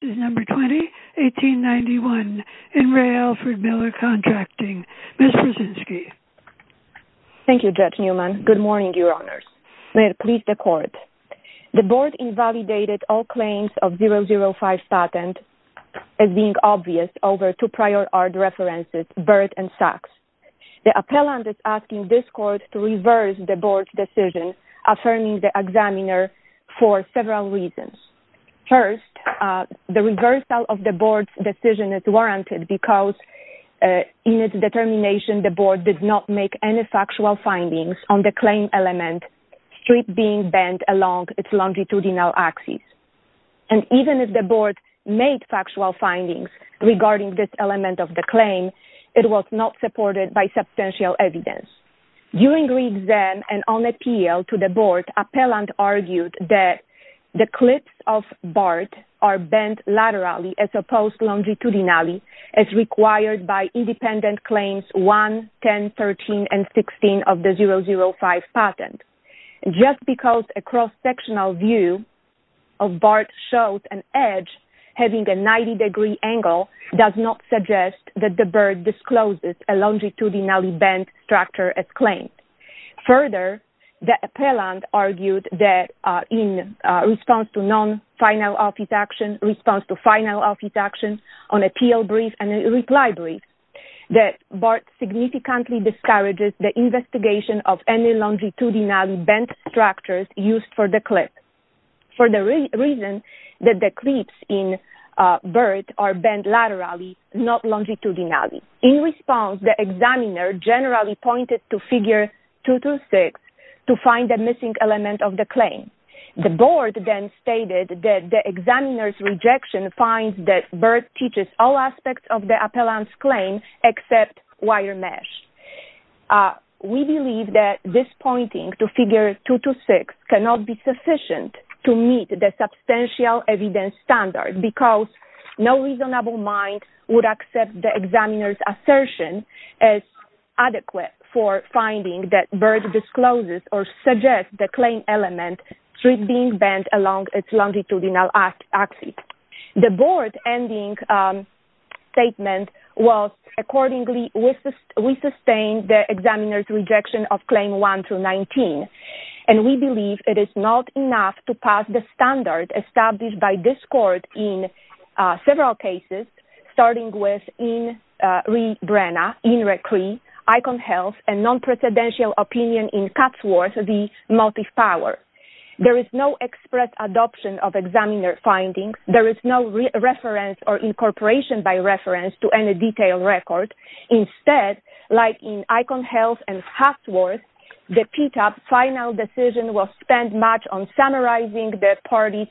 This is number 20, 1891, In Re Alfred Miller Contracting, Ms. Brzezinski. Thank you, Judge Newman. Good morning, Your Honors. May it please the Court, the Board invalidated all claims of 005 patent as being obvious over two prior art references, Burt and Sachs. The appellant is asking this Court to reverse the Board's decision, affirming the examiner for several reasons. First, the reversal of the Board's decision is warranted because in its determination, the Board did not make any factual findings on the claim element, strip being bent along its longitudinal axis. And even if the Board made factual findings regarding this element of the claim, it was not supported by substantial evidence. During re-exam and on appeal to the Board, appellant argued that the clips of Burt are bent laterally as opposed longitudinally as required by independent claims 1, 10, 13, and 16 of the 005 patent. Just because a cross-sectional view of Burt shows an edge having a 90-degree angle does not suggest that the Burt discloses a longitudinally bent structure as claimed. Further, the appellant argued that in response to non-final office action, response to final office action on appeal brief and reply brief, that Burt significantly discourages the investigation of any longitudinally bent structures used for the clip. For the reason that the clips in Burt are bent laterally, not longitudinally. In response, the examiner generally pointed to figure 226 to find the missing element of the claim. The Board then stated that the examiner's rejection finds that Burt teaches all aspects of the appellant's claim except wire mesh. We believe that this pointing to figure 226 cannot be sufficient to meet the substantial evidence standard because no reasonable mind would accept the examiner's assertion as adequate for finding that Burt discloses or suggests the claim element should be bent along its longitudinal axis. The Board's ending statement was, accordingly, we sustain the examiner's rejection of Claim 1 through 19. And we believe it is not enough to pass the standard established by this Court in several cases, starting with In Re Cree, Icon Health, and non-precedential opinion in Katzworth, the Motive Power. There is no express adoption of examiner findings. There is no reference or incorporation by reference to any detailed record. Instead, like in Icon Health and Katzworth, the PTAP final decision was spent much on summarizing the parties'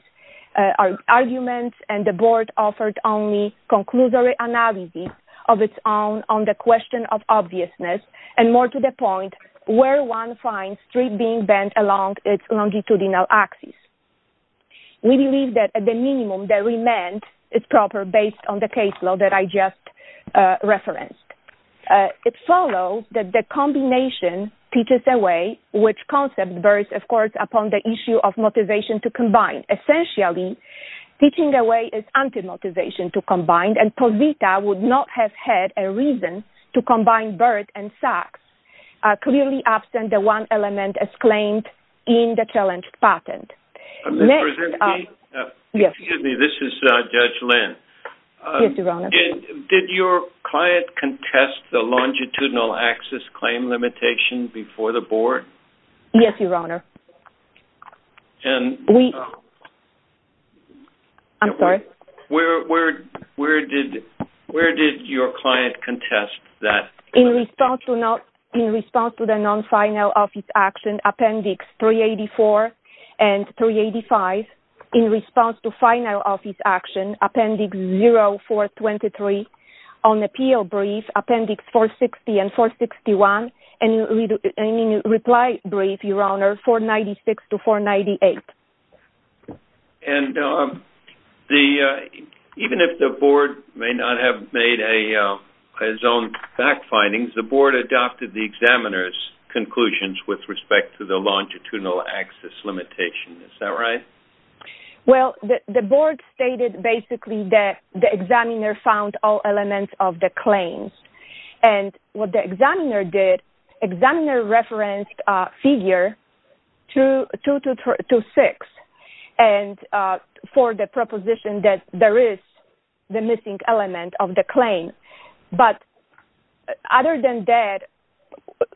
arguments and the Board offered only conclusory analysis of its own on the question of obviousness, and more to the point, where one finds 3 being bent along its longitudinal axis. We believe that, at the minimum, the remand is proper based on the caseload that I just referenced. It follows that the combination teaches a way which concept bursts, of course, upon the issue of motivation to combine. Essentially, teaching a way is anti-motivation to combine, and Povita would not have had a reason to combine BERT and SACS, clearly absent the one element exclaimed in the challenged patent. Excuse me, this is Judge Lynn. Did your client contest the longitudinal axis claim limitation before the Board? Yes, Your Honor. I'm sorry? Where did your client contest that? In response to the non-final office action, Appendix 384 and 385. In response to final office action, Appendix 0423. On appeal brief, Appendix 460 and 461, and in reply brief, Your Honor, 496 to 498. And even if the Board may not have made its own fact findings, the Board adopted the examiner's conclusions with respect to the longitudinal axis limitation, is that right? Well, the Board stated, basically, that the examiner found all elements of the claims, and what the examiner did, examiner referenced figure 2226, and for the proposition that there is the missing element of the claim, but other than that,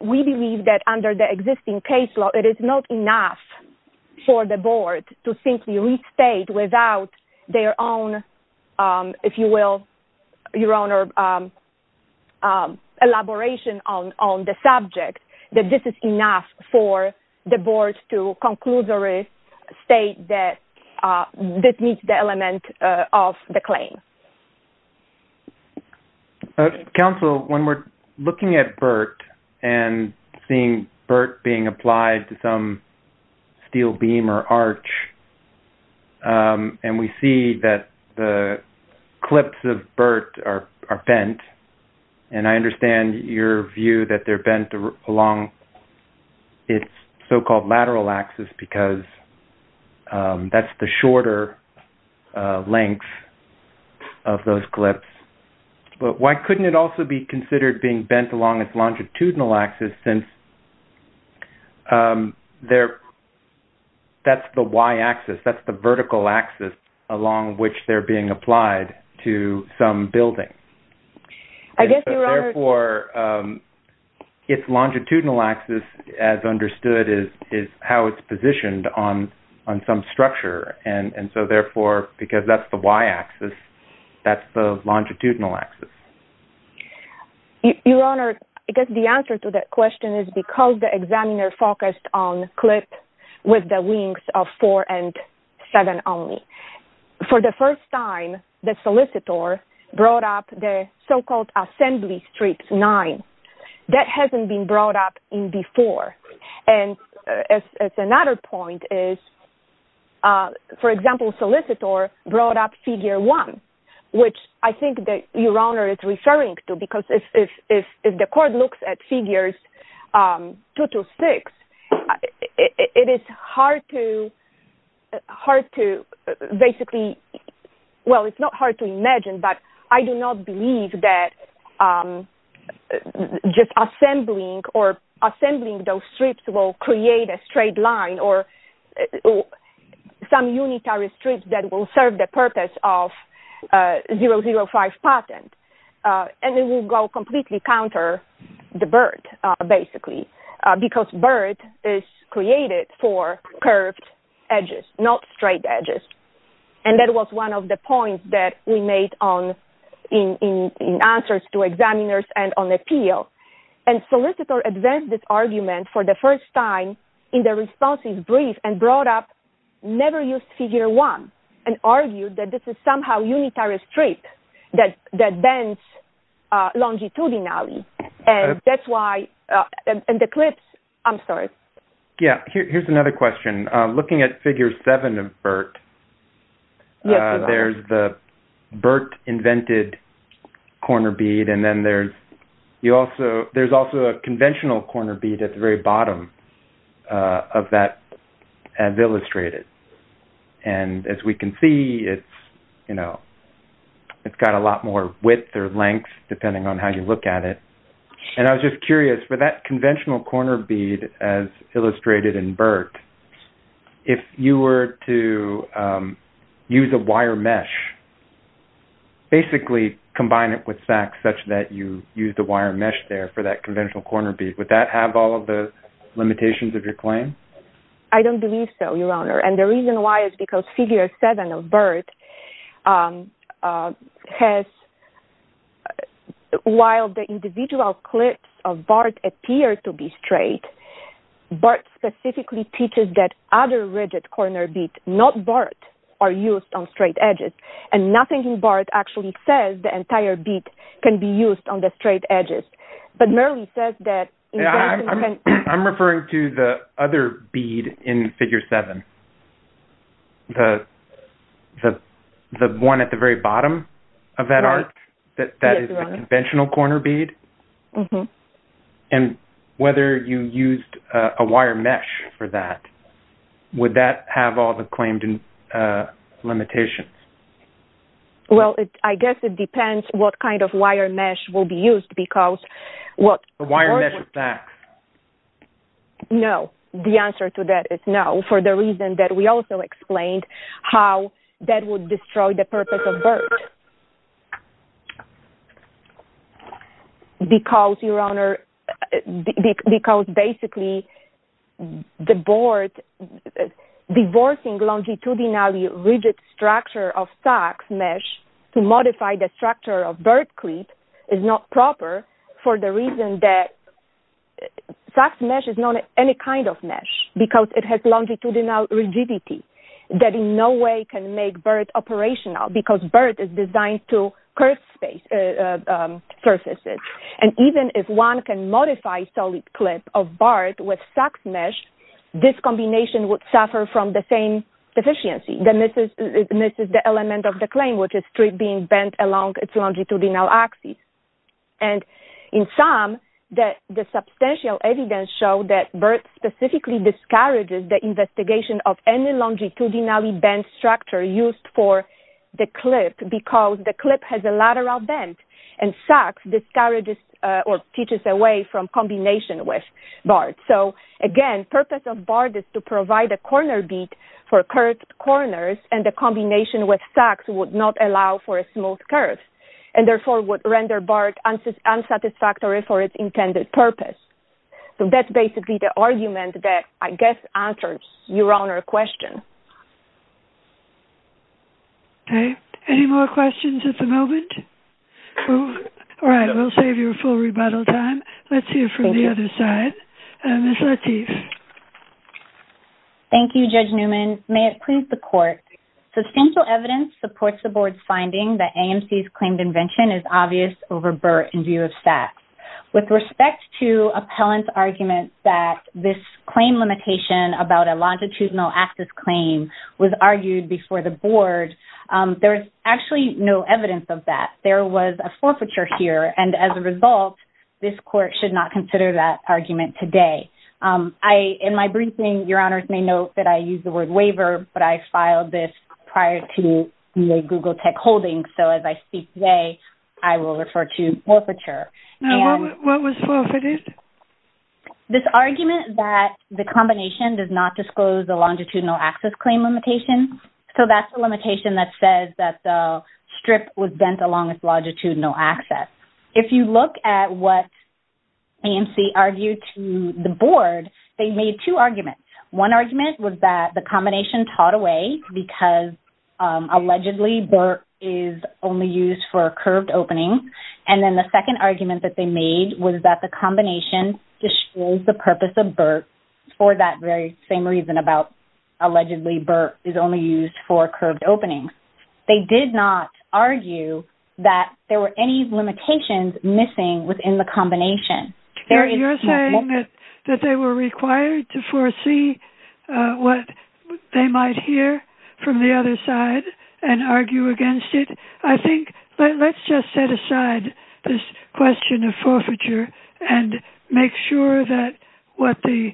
we believe that under the existing case law, it is not enough for the Board to simply restate without their own, if you will, Your Honor, elaboration on the subject, that this is enough for the Board to conclusively state that this meets the element of the claim. Counsel, when we're looking at BERT and seeing BERT being applied to some steel beam or arch, and we see that the clips of BERT are bent, and I understand your view that they're bent along its so-called lateral axis, because that's the shorter length of those clips, but why couldn't it also be considered being bent along its longitudinal axis, since that's the y-axis, that's the vertical axis along which they're being applied to some building? I guess, Your Honor... Therefore, its longitudinal axis, as understood, is how it's positioned on some structure, and so therefore, because that's the y-axis, that's the longitudinal axis. Your Honor, I guess the answer to that question is because the examiner focused on four and seven only. For the first time, the solicitor brought up the so-called assembly strips nine. That hasn't been brought up in before, and another point is, for example, solicitor brought up figure one, which I think that Your Honor is referring to, because if the hard to basically... Well, it's not hard to imagine, but I do not believe that just assembling or assembling those strips will create a straight line or some unitary strips that will serve the purpose of 005 patent, and it will go completely counter the BERT, basically, because BERT is created for curved edges, not straight edges, and that was one of the points that we made in answers to examiners and on appeal, and solicitor advanced this argument for the first time in the responses brief and brought up never-used figure one and argued that this is somehow unitary strip that bends longitudinally, and that's why... And the clips, I'm sorry. Yeah, here's another question. Looking at figure seven of BERT, there's the BERT-invented corner bead, and then there's also a conventional corner bead at the very bottom of that as illustrated, and as we can see, it's got a BERT-invented corner bead. And I was just curious, for that conventional corner bead as illustrated in BERT, if you were to use a wire mesh, basically combine it with SACS such that you use the wire mesh there for that conventional corner bead, would that have all of the limitations of your claim? I don't believe so, Your Honor, and the reason why is because figure seven of BERT has, while the individual clips of BERT appear to be straight, BERT specifically teaches that other rigid corner beads, not BERT, are used on straight edges, and nothing in BERT actually says the entire bead can be used on the straight edges, but merely says that... I'm referring to the other bead in figure seven, the one at the very bottom of that arc, that is the conventional corner bead, and whether you used a wire mesh for that, would that have all the claimed limitations? Well, I guess it depends what kind of wire mesh will be used, because what... The wire mesh is SACS. No, the answer to that is no, for the reason that we also explained how that would destroy the purpose of BERT. Because, Your Honor, because basically the BERT, divorcing longitudinally rigid structure of SACS mesh to modify the structure of BERT clip is not proper for the reason that SACS mesh is not any kind of mesh, because it has longitudinal rigidity, that in no way can make BERT operational, because BERT is designed to curve surfaces, and even if one can modify solid clip of BERT with SACS mesh, this combination would suffer from the same deficiency. It misses the element of the claim, which is strip being bent along its longitudinal axis. And in sum, the substantial evidence show that BERT specifically discourages the investigation of any longitudinally bent structure used for the clip, because the clip has a lateral bend, and SACS discourages or teaches away from combination with BERT. So, again, purpose of BERT is to provide a corner beat for curved corners, and the combination with SACS would not allow for a smooth curve, and therefore would render BERT unsatisfactory for its intended purpose. So, that's basically the argument that, I guess, answers Your Honor's question. Okay, any more questions at the moment? All right, we'll save your full rebuttal time. Let's hear from the other side. Ms. Lateef. Thank you, Judge Newman. May it please the Court. Substantial evidence supports the Board's finding that AMC's claimed invention is obvious over BERT in view of SACS. With respect to appellant's argument that this claim limitation about a longitudinal axis claim was argued before the Board, there is actually no evidence of that. There was a forfeiture here, and as a result, this Court should not consider that argument today. In my briefing, Your Honors may note that I used the word waiver, but I filed this prior to the Google Tech holdings. So, as I speak today, I will refer to forfeiture. Now, what was forfeited? This argument that the combination does not disclose the longitudinal axis claim limitation. So, that's the limitation that says that the strip was bent along its longitudinal axis. If you look at what AMC argued to the Board, they made two arguments. One argument was that the combination taught away because, allegedly, BERT is only used for curved openings. And then the second argument that they made was that the combination discloses the purpose of BERT for that very same reason about, allegedly, BERT is only used for curved openings. They did not argue that there were any limitations missing within the combination. You're saying that they were required to foresee what they might hear from the other side and argue against it? I think, let's just set aside this question of forfeiture and make sure that what the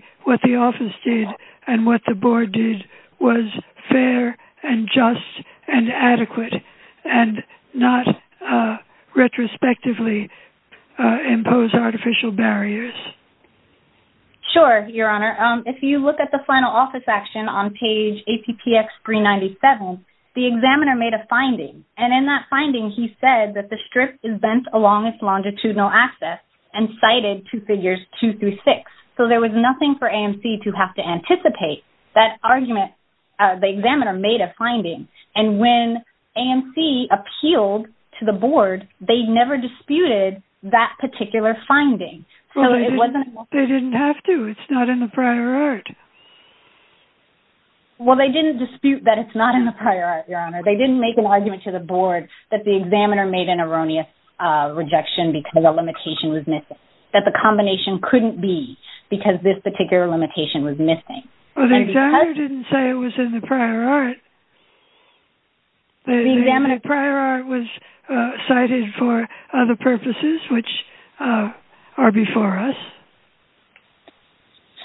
Office did and what the Board did was fair and just and adequate and not retrospectively impose artificial barriers. Sure, Your Honor. If you look at the final Office action on page APPX 397, the examiner made a finding. And in that finding, he said that the strip is bent along its longitudinal axis and cited to figures two through six. So, there was nothing for AMC to have to anticipate. That argument, the examiner made a finding. And when AMC appealed to the Board, they never disputed that particular finding. They didn't have to. It's not in the prior art. Well, they didn't dispute that it's not in the prior art, Your Honor. They didn't make an erroneous rejection because a limitation was missing. That the combination couldn't be because this particular limitation was missing. Well, the examiner didn't say it was in the prior art. The prior art was cited for other purposes which are before us.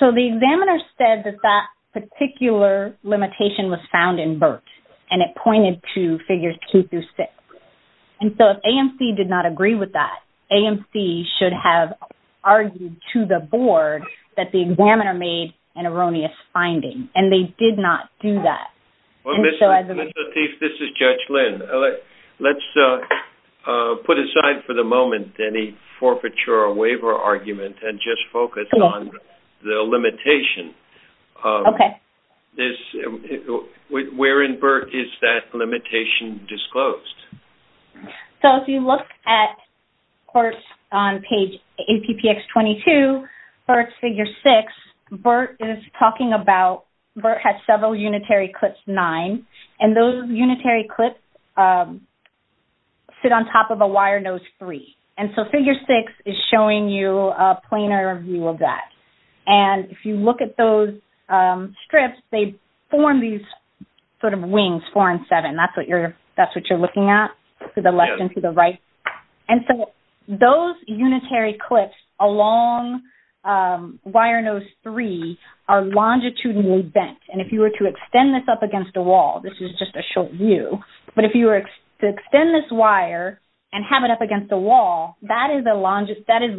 So, the examiner said that that particular limitation was found in BERT and it pointed to figures two through six. And so, if AMC did not agree with that, AMC should have argued to the Board that the examiner made an erroneous finding. And they did not do that. Ms. Lateef, this is Judge Lynn. Let's put aside for the moment any forfeiture or waiver argument and just focus on the limitation. Okay. Where in BERT is that limitation disclosed? So, if you look at BERT on page APPX 22, BERT's figure six, BERT is talking about BERT had several unitary clips nine. And those unitary clips sit on top of a wire nose three. And so, figure six is showing you a planar view of that. And if you look at those strips, they form these sort of wings four and seven. That's what you're looking at to the left and to the right. And so, those unitary clips along wire nose three are longitudinally bent. And if you were to extend this up against a wall, this is just a short view. But if you were to extend this and have it up against a wall, that is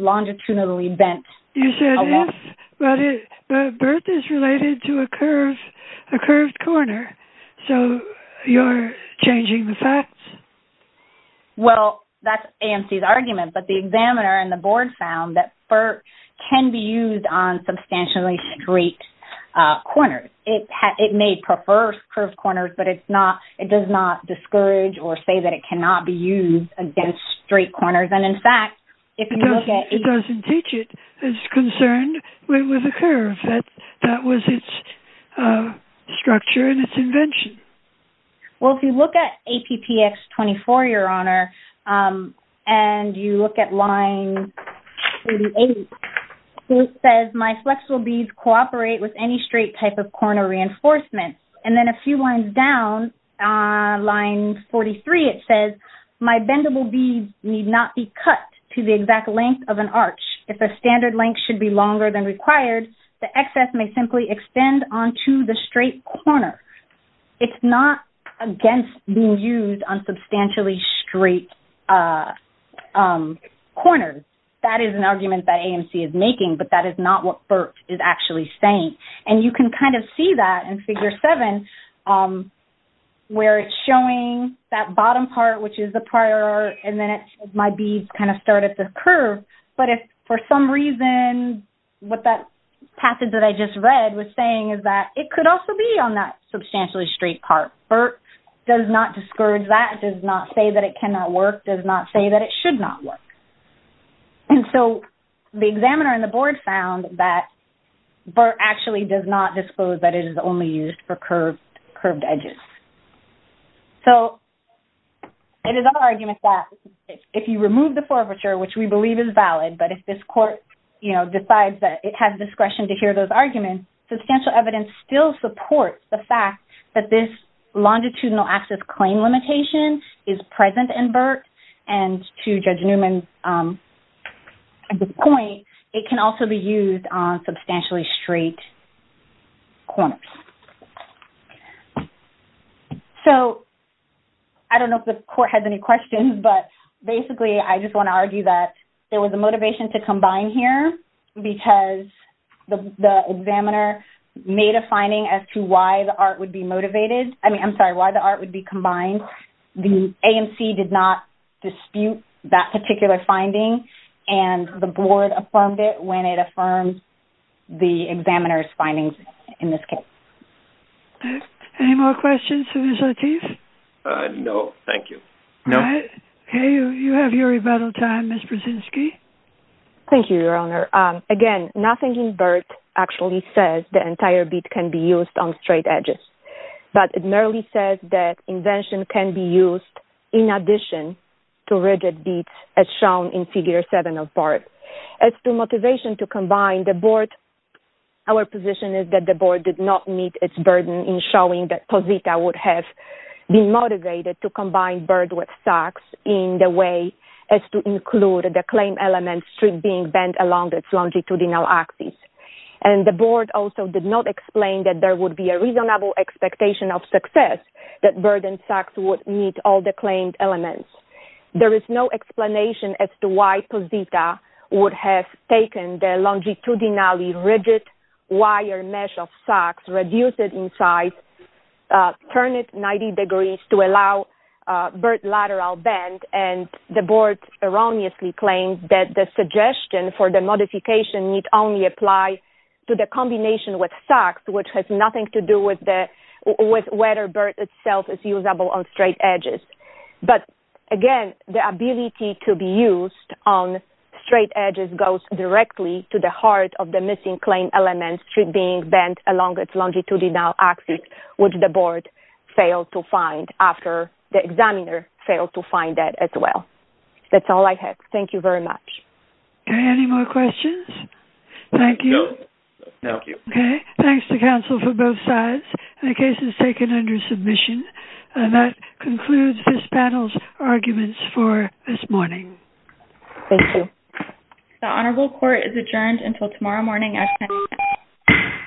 longitudinally bent. You said if, but BERT is related to a curved corner. So, you're changing the facts? Well, that's AMC's argument. But the examiner and the Board found that BERT can be used on substantially straight corners. It may prefer curved corners, but it does not discourage or say that it cannot be used against straight corners. And in fact, if you look at... It doesn't teach it. It's concerned with a curve. That was its structure and its invention. Well, if you look at APPX 24, Your Honor, and you look at line 38, it says, my flexible beads cooperate with any straight type of corner reinforcement. And then a few lines down line 43, it says, my bendable beads need not be cut to the exact length of an arch. If the standard length should be longer than required, the excess may simply extend onto the straight corner. It's not against being used on substantially straight corners. That is an argument that AMC is making, but that is not what BERT is actually saying. And you can kind of see that in Figure 7, where it's showing that bottom part, which is the prior, and then it says, my beads kind of start at the curve. But if for some reason, what that passage that I just read was saying is that it could also be on that substantially straight part. BERT does not discourage that, does not say that it cannot work, does not say that it should not work. And so the examiner and the Board found that BERT actually does not disclose that it is only used for curved edges. So it is our argument that if you remove the forfeiture, which we believe is valid, but if this court decides that it has discretion to hear those arguments, substantial evidence still supports the fact that this longitudinal access claim limitation is present in BERT. And to Judge Newman's point, it can also be used on substantially straight corners. So I don't know if the court has any questions, but basically, I just want to argue that there was a motivation to combine here because the examiner made a finding as to why the art would be combined. The AMC did not dispute that particular finding, and the Board affirmed it when it affirmed the examiner's findings in this case. Any more questions for Ms. Lateef? No, thank you. You have your rebuttal time, Ms. Brzezinski. Thank you, Your Honor. Again, nothing in BERT actually says the entire bead can be used on straight edges, but it merely says that invention can be used in addition to rigid beads as shown in Figure 7 of BERT. As to motivation to combine, our position is that the Board did not meet its burden in showing that Posita would have been motivated to combine BERT with SOX in the way as to include the claim element strip being bent along its longitudinal axis. And the Board also did not explain that there would be a reasonable expectation of success that BERT and SOX would meet all the claimed elements. There is no explanation as to why Posita would have taken the longitudinally rigid wire mesh of SOX, reduced it in size, turned it 90 degrees to allow BERT lateral bend, and the Board erroneously claimed that the combination with SOX, which has nothing to do with whether BERT itself is usable on straight edges. But again, the ability to be used on straight edges goes directly to the heart of the missing claim element strip being bent along its longitudinal axis, which the Board failed to find after the examiner failed to find that as well. That's all I have. Thank you very much. Okay. Any more questions? Thank you. No. Thank you. Okay. Thanks to counsel for both sides. The case is taken under submission. And that concludes this panel's arguments for this morning. Thank you. The Honorable Court is adjourned until tomorrow morning at 10 a.m.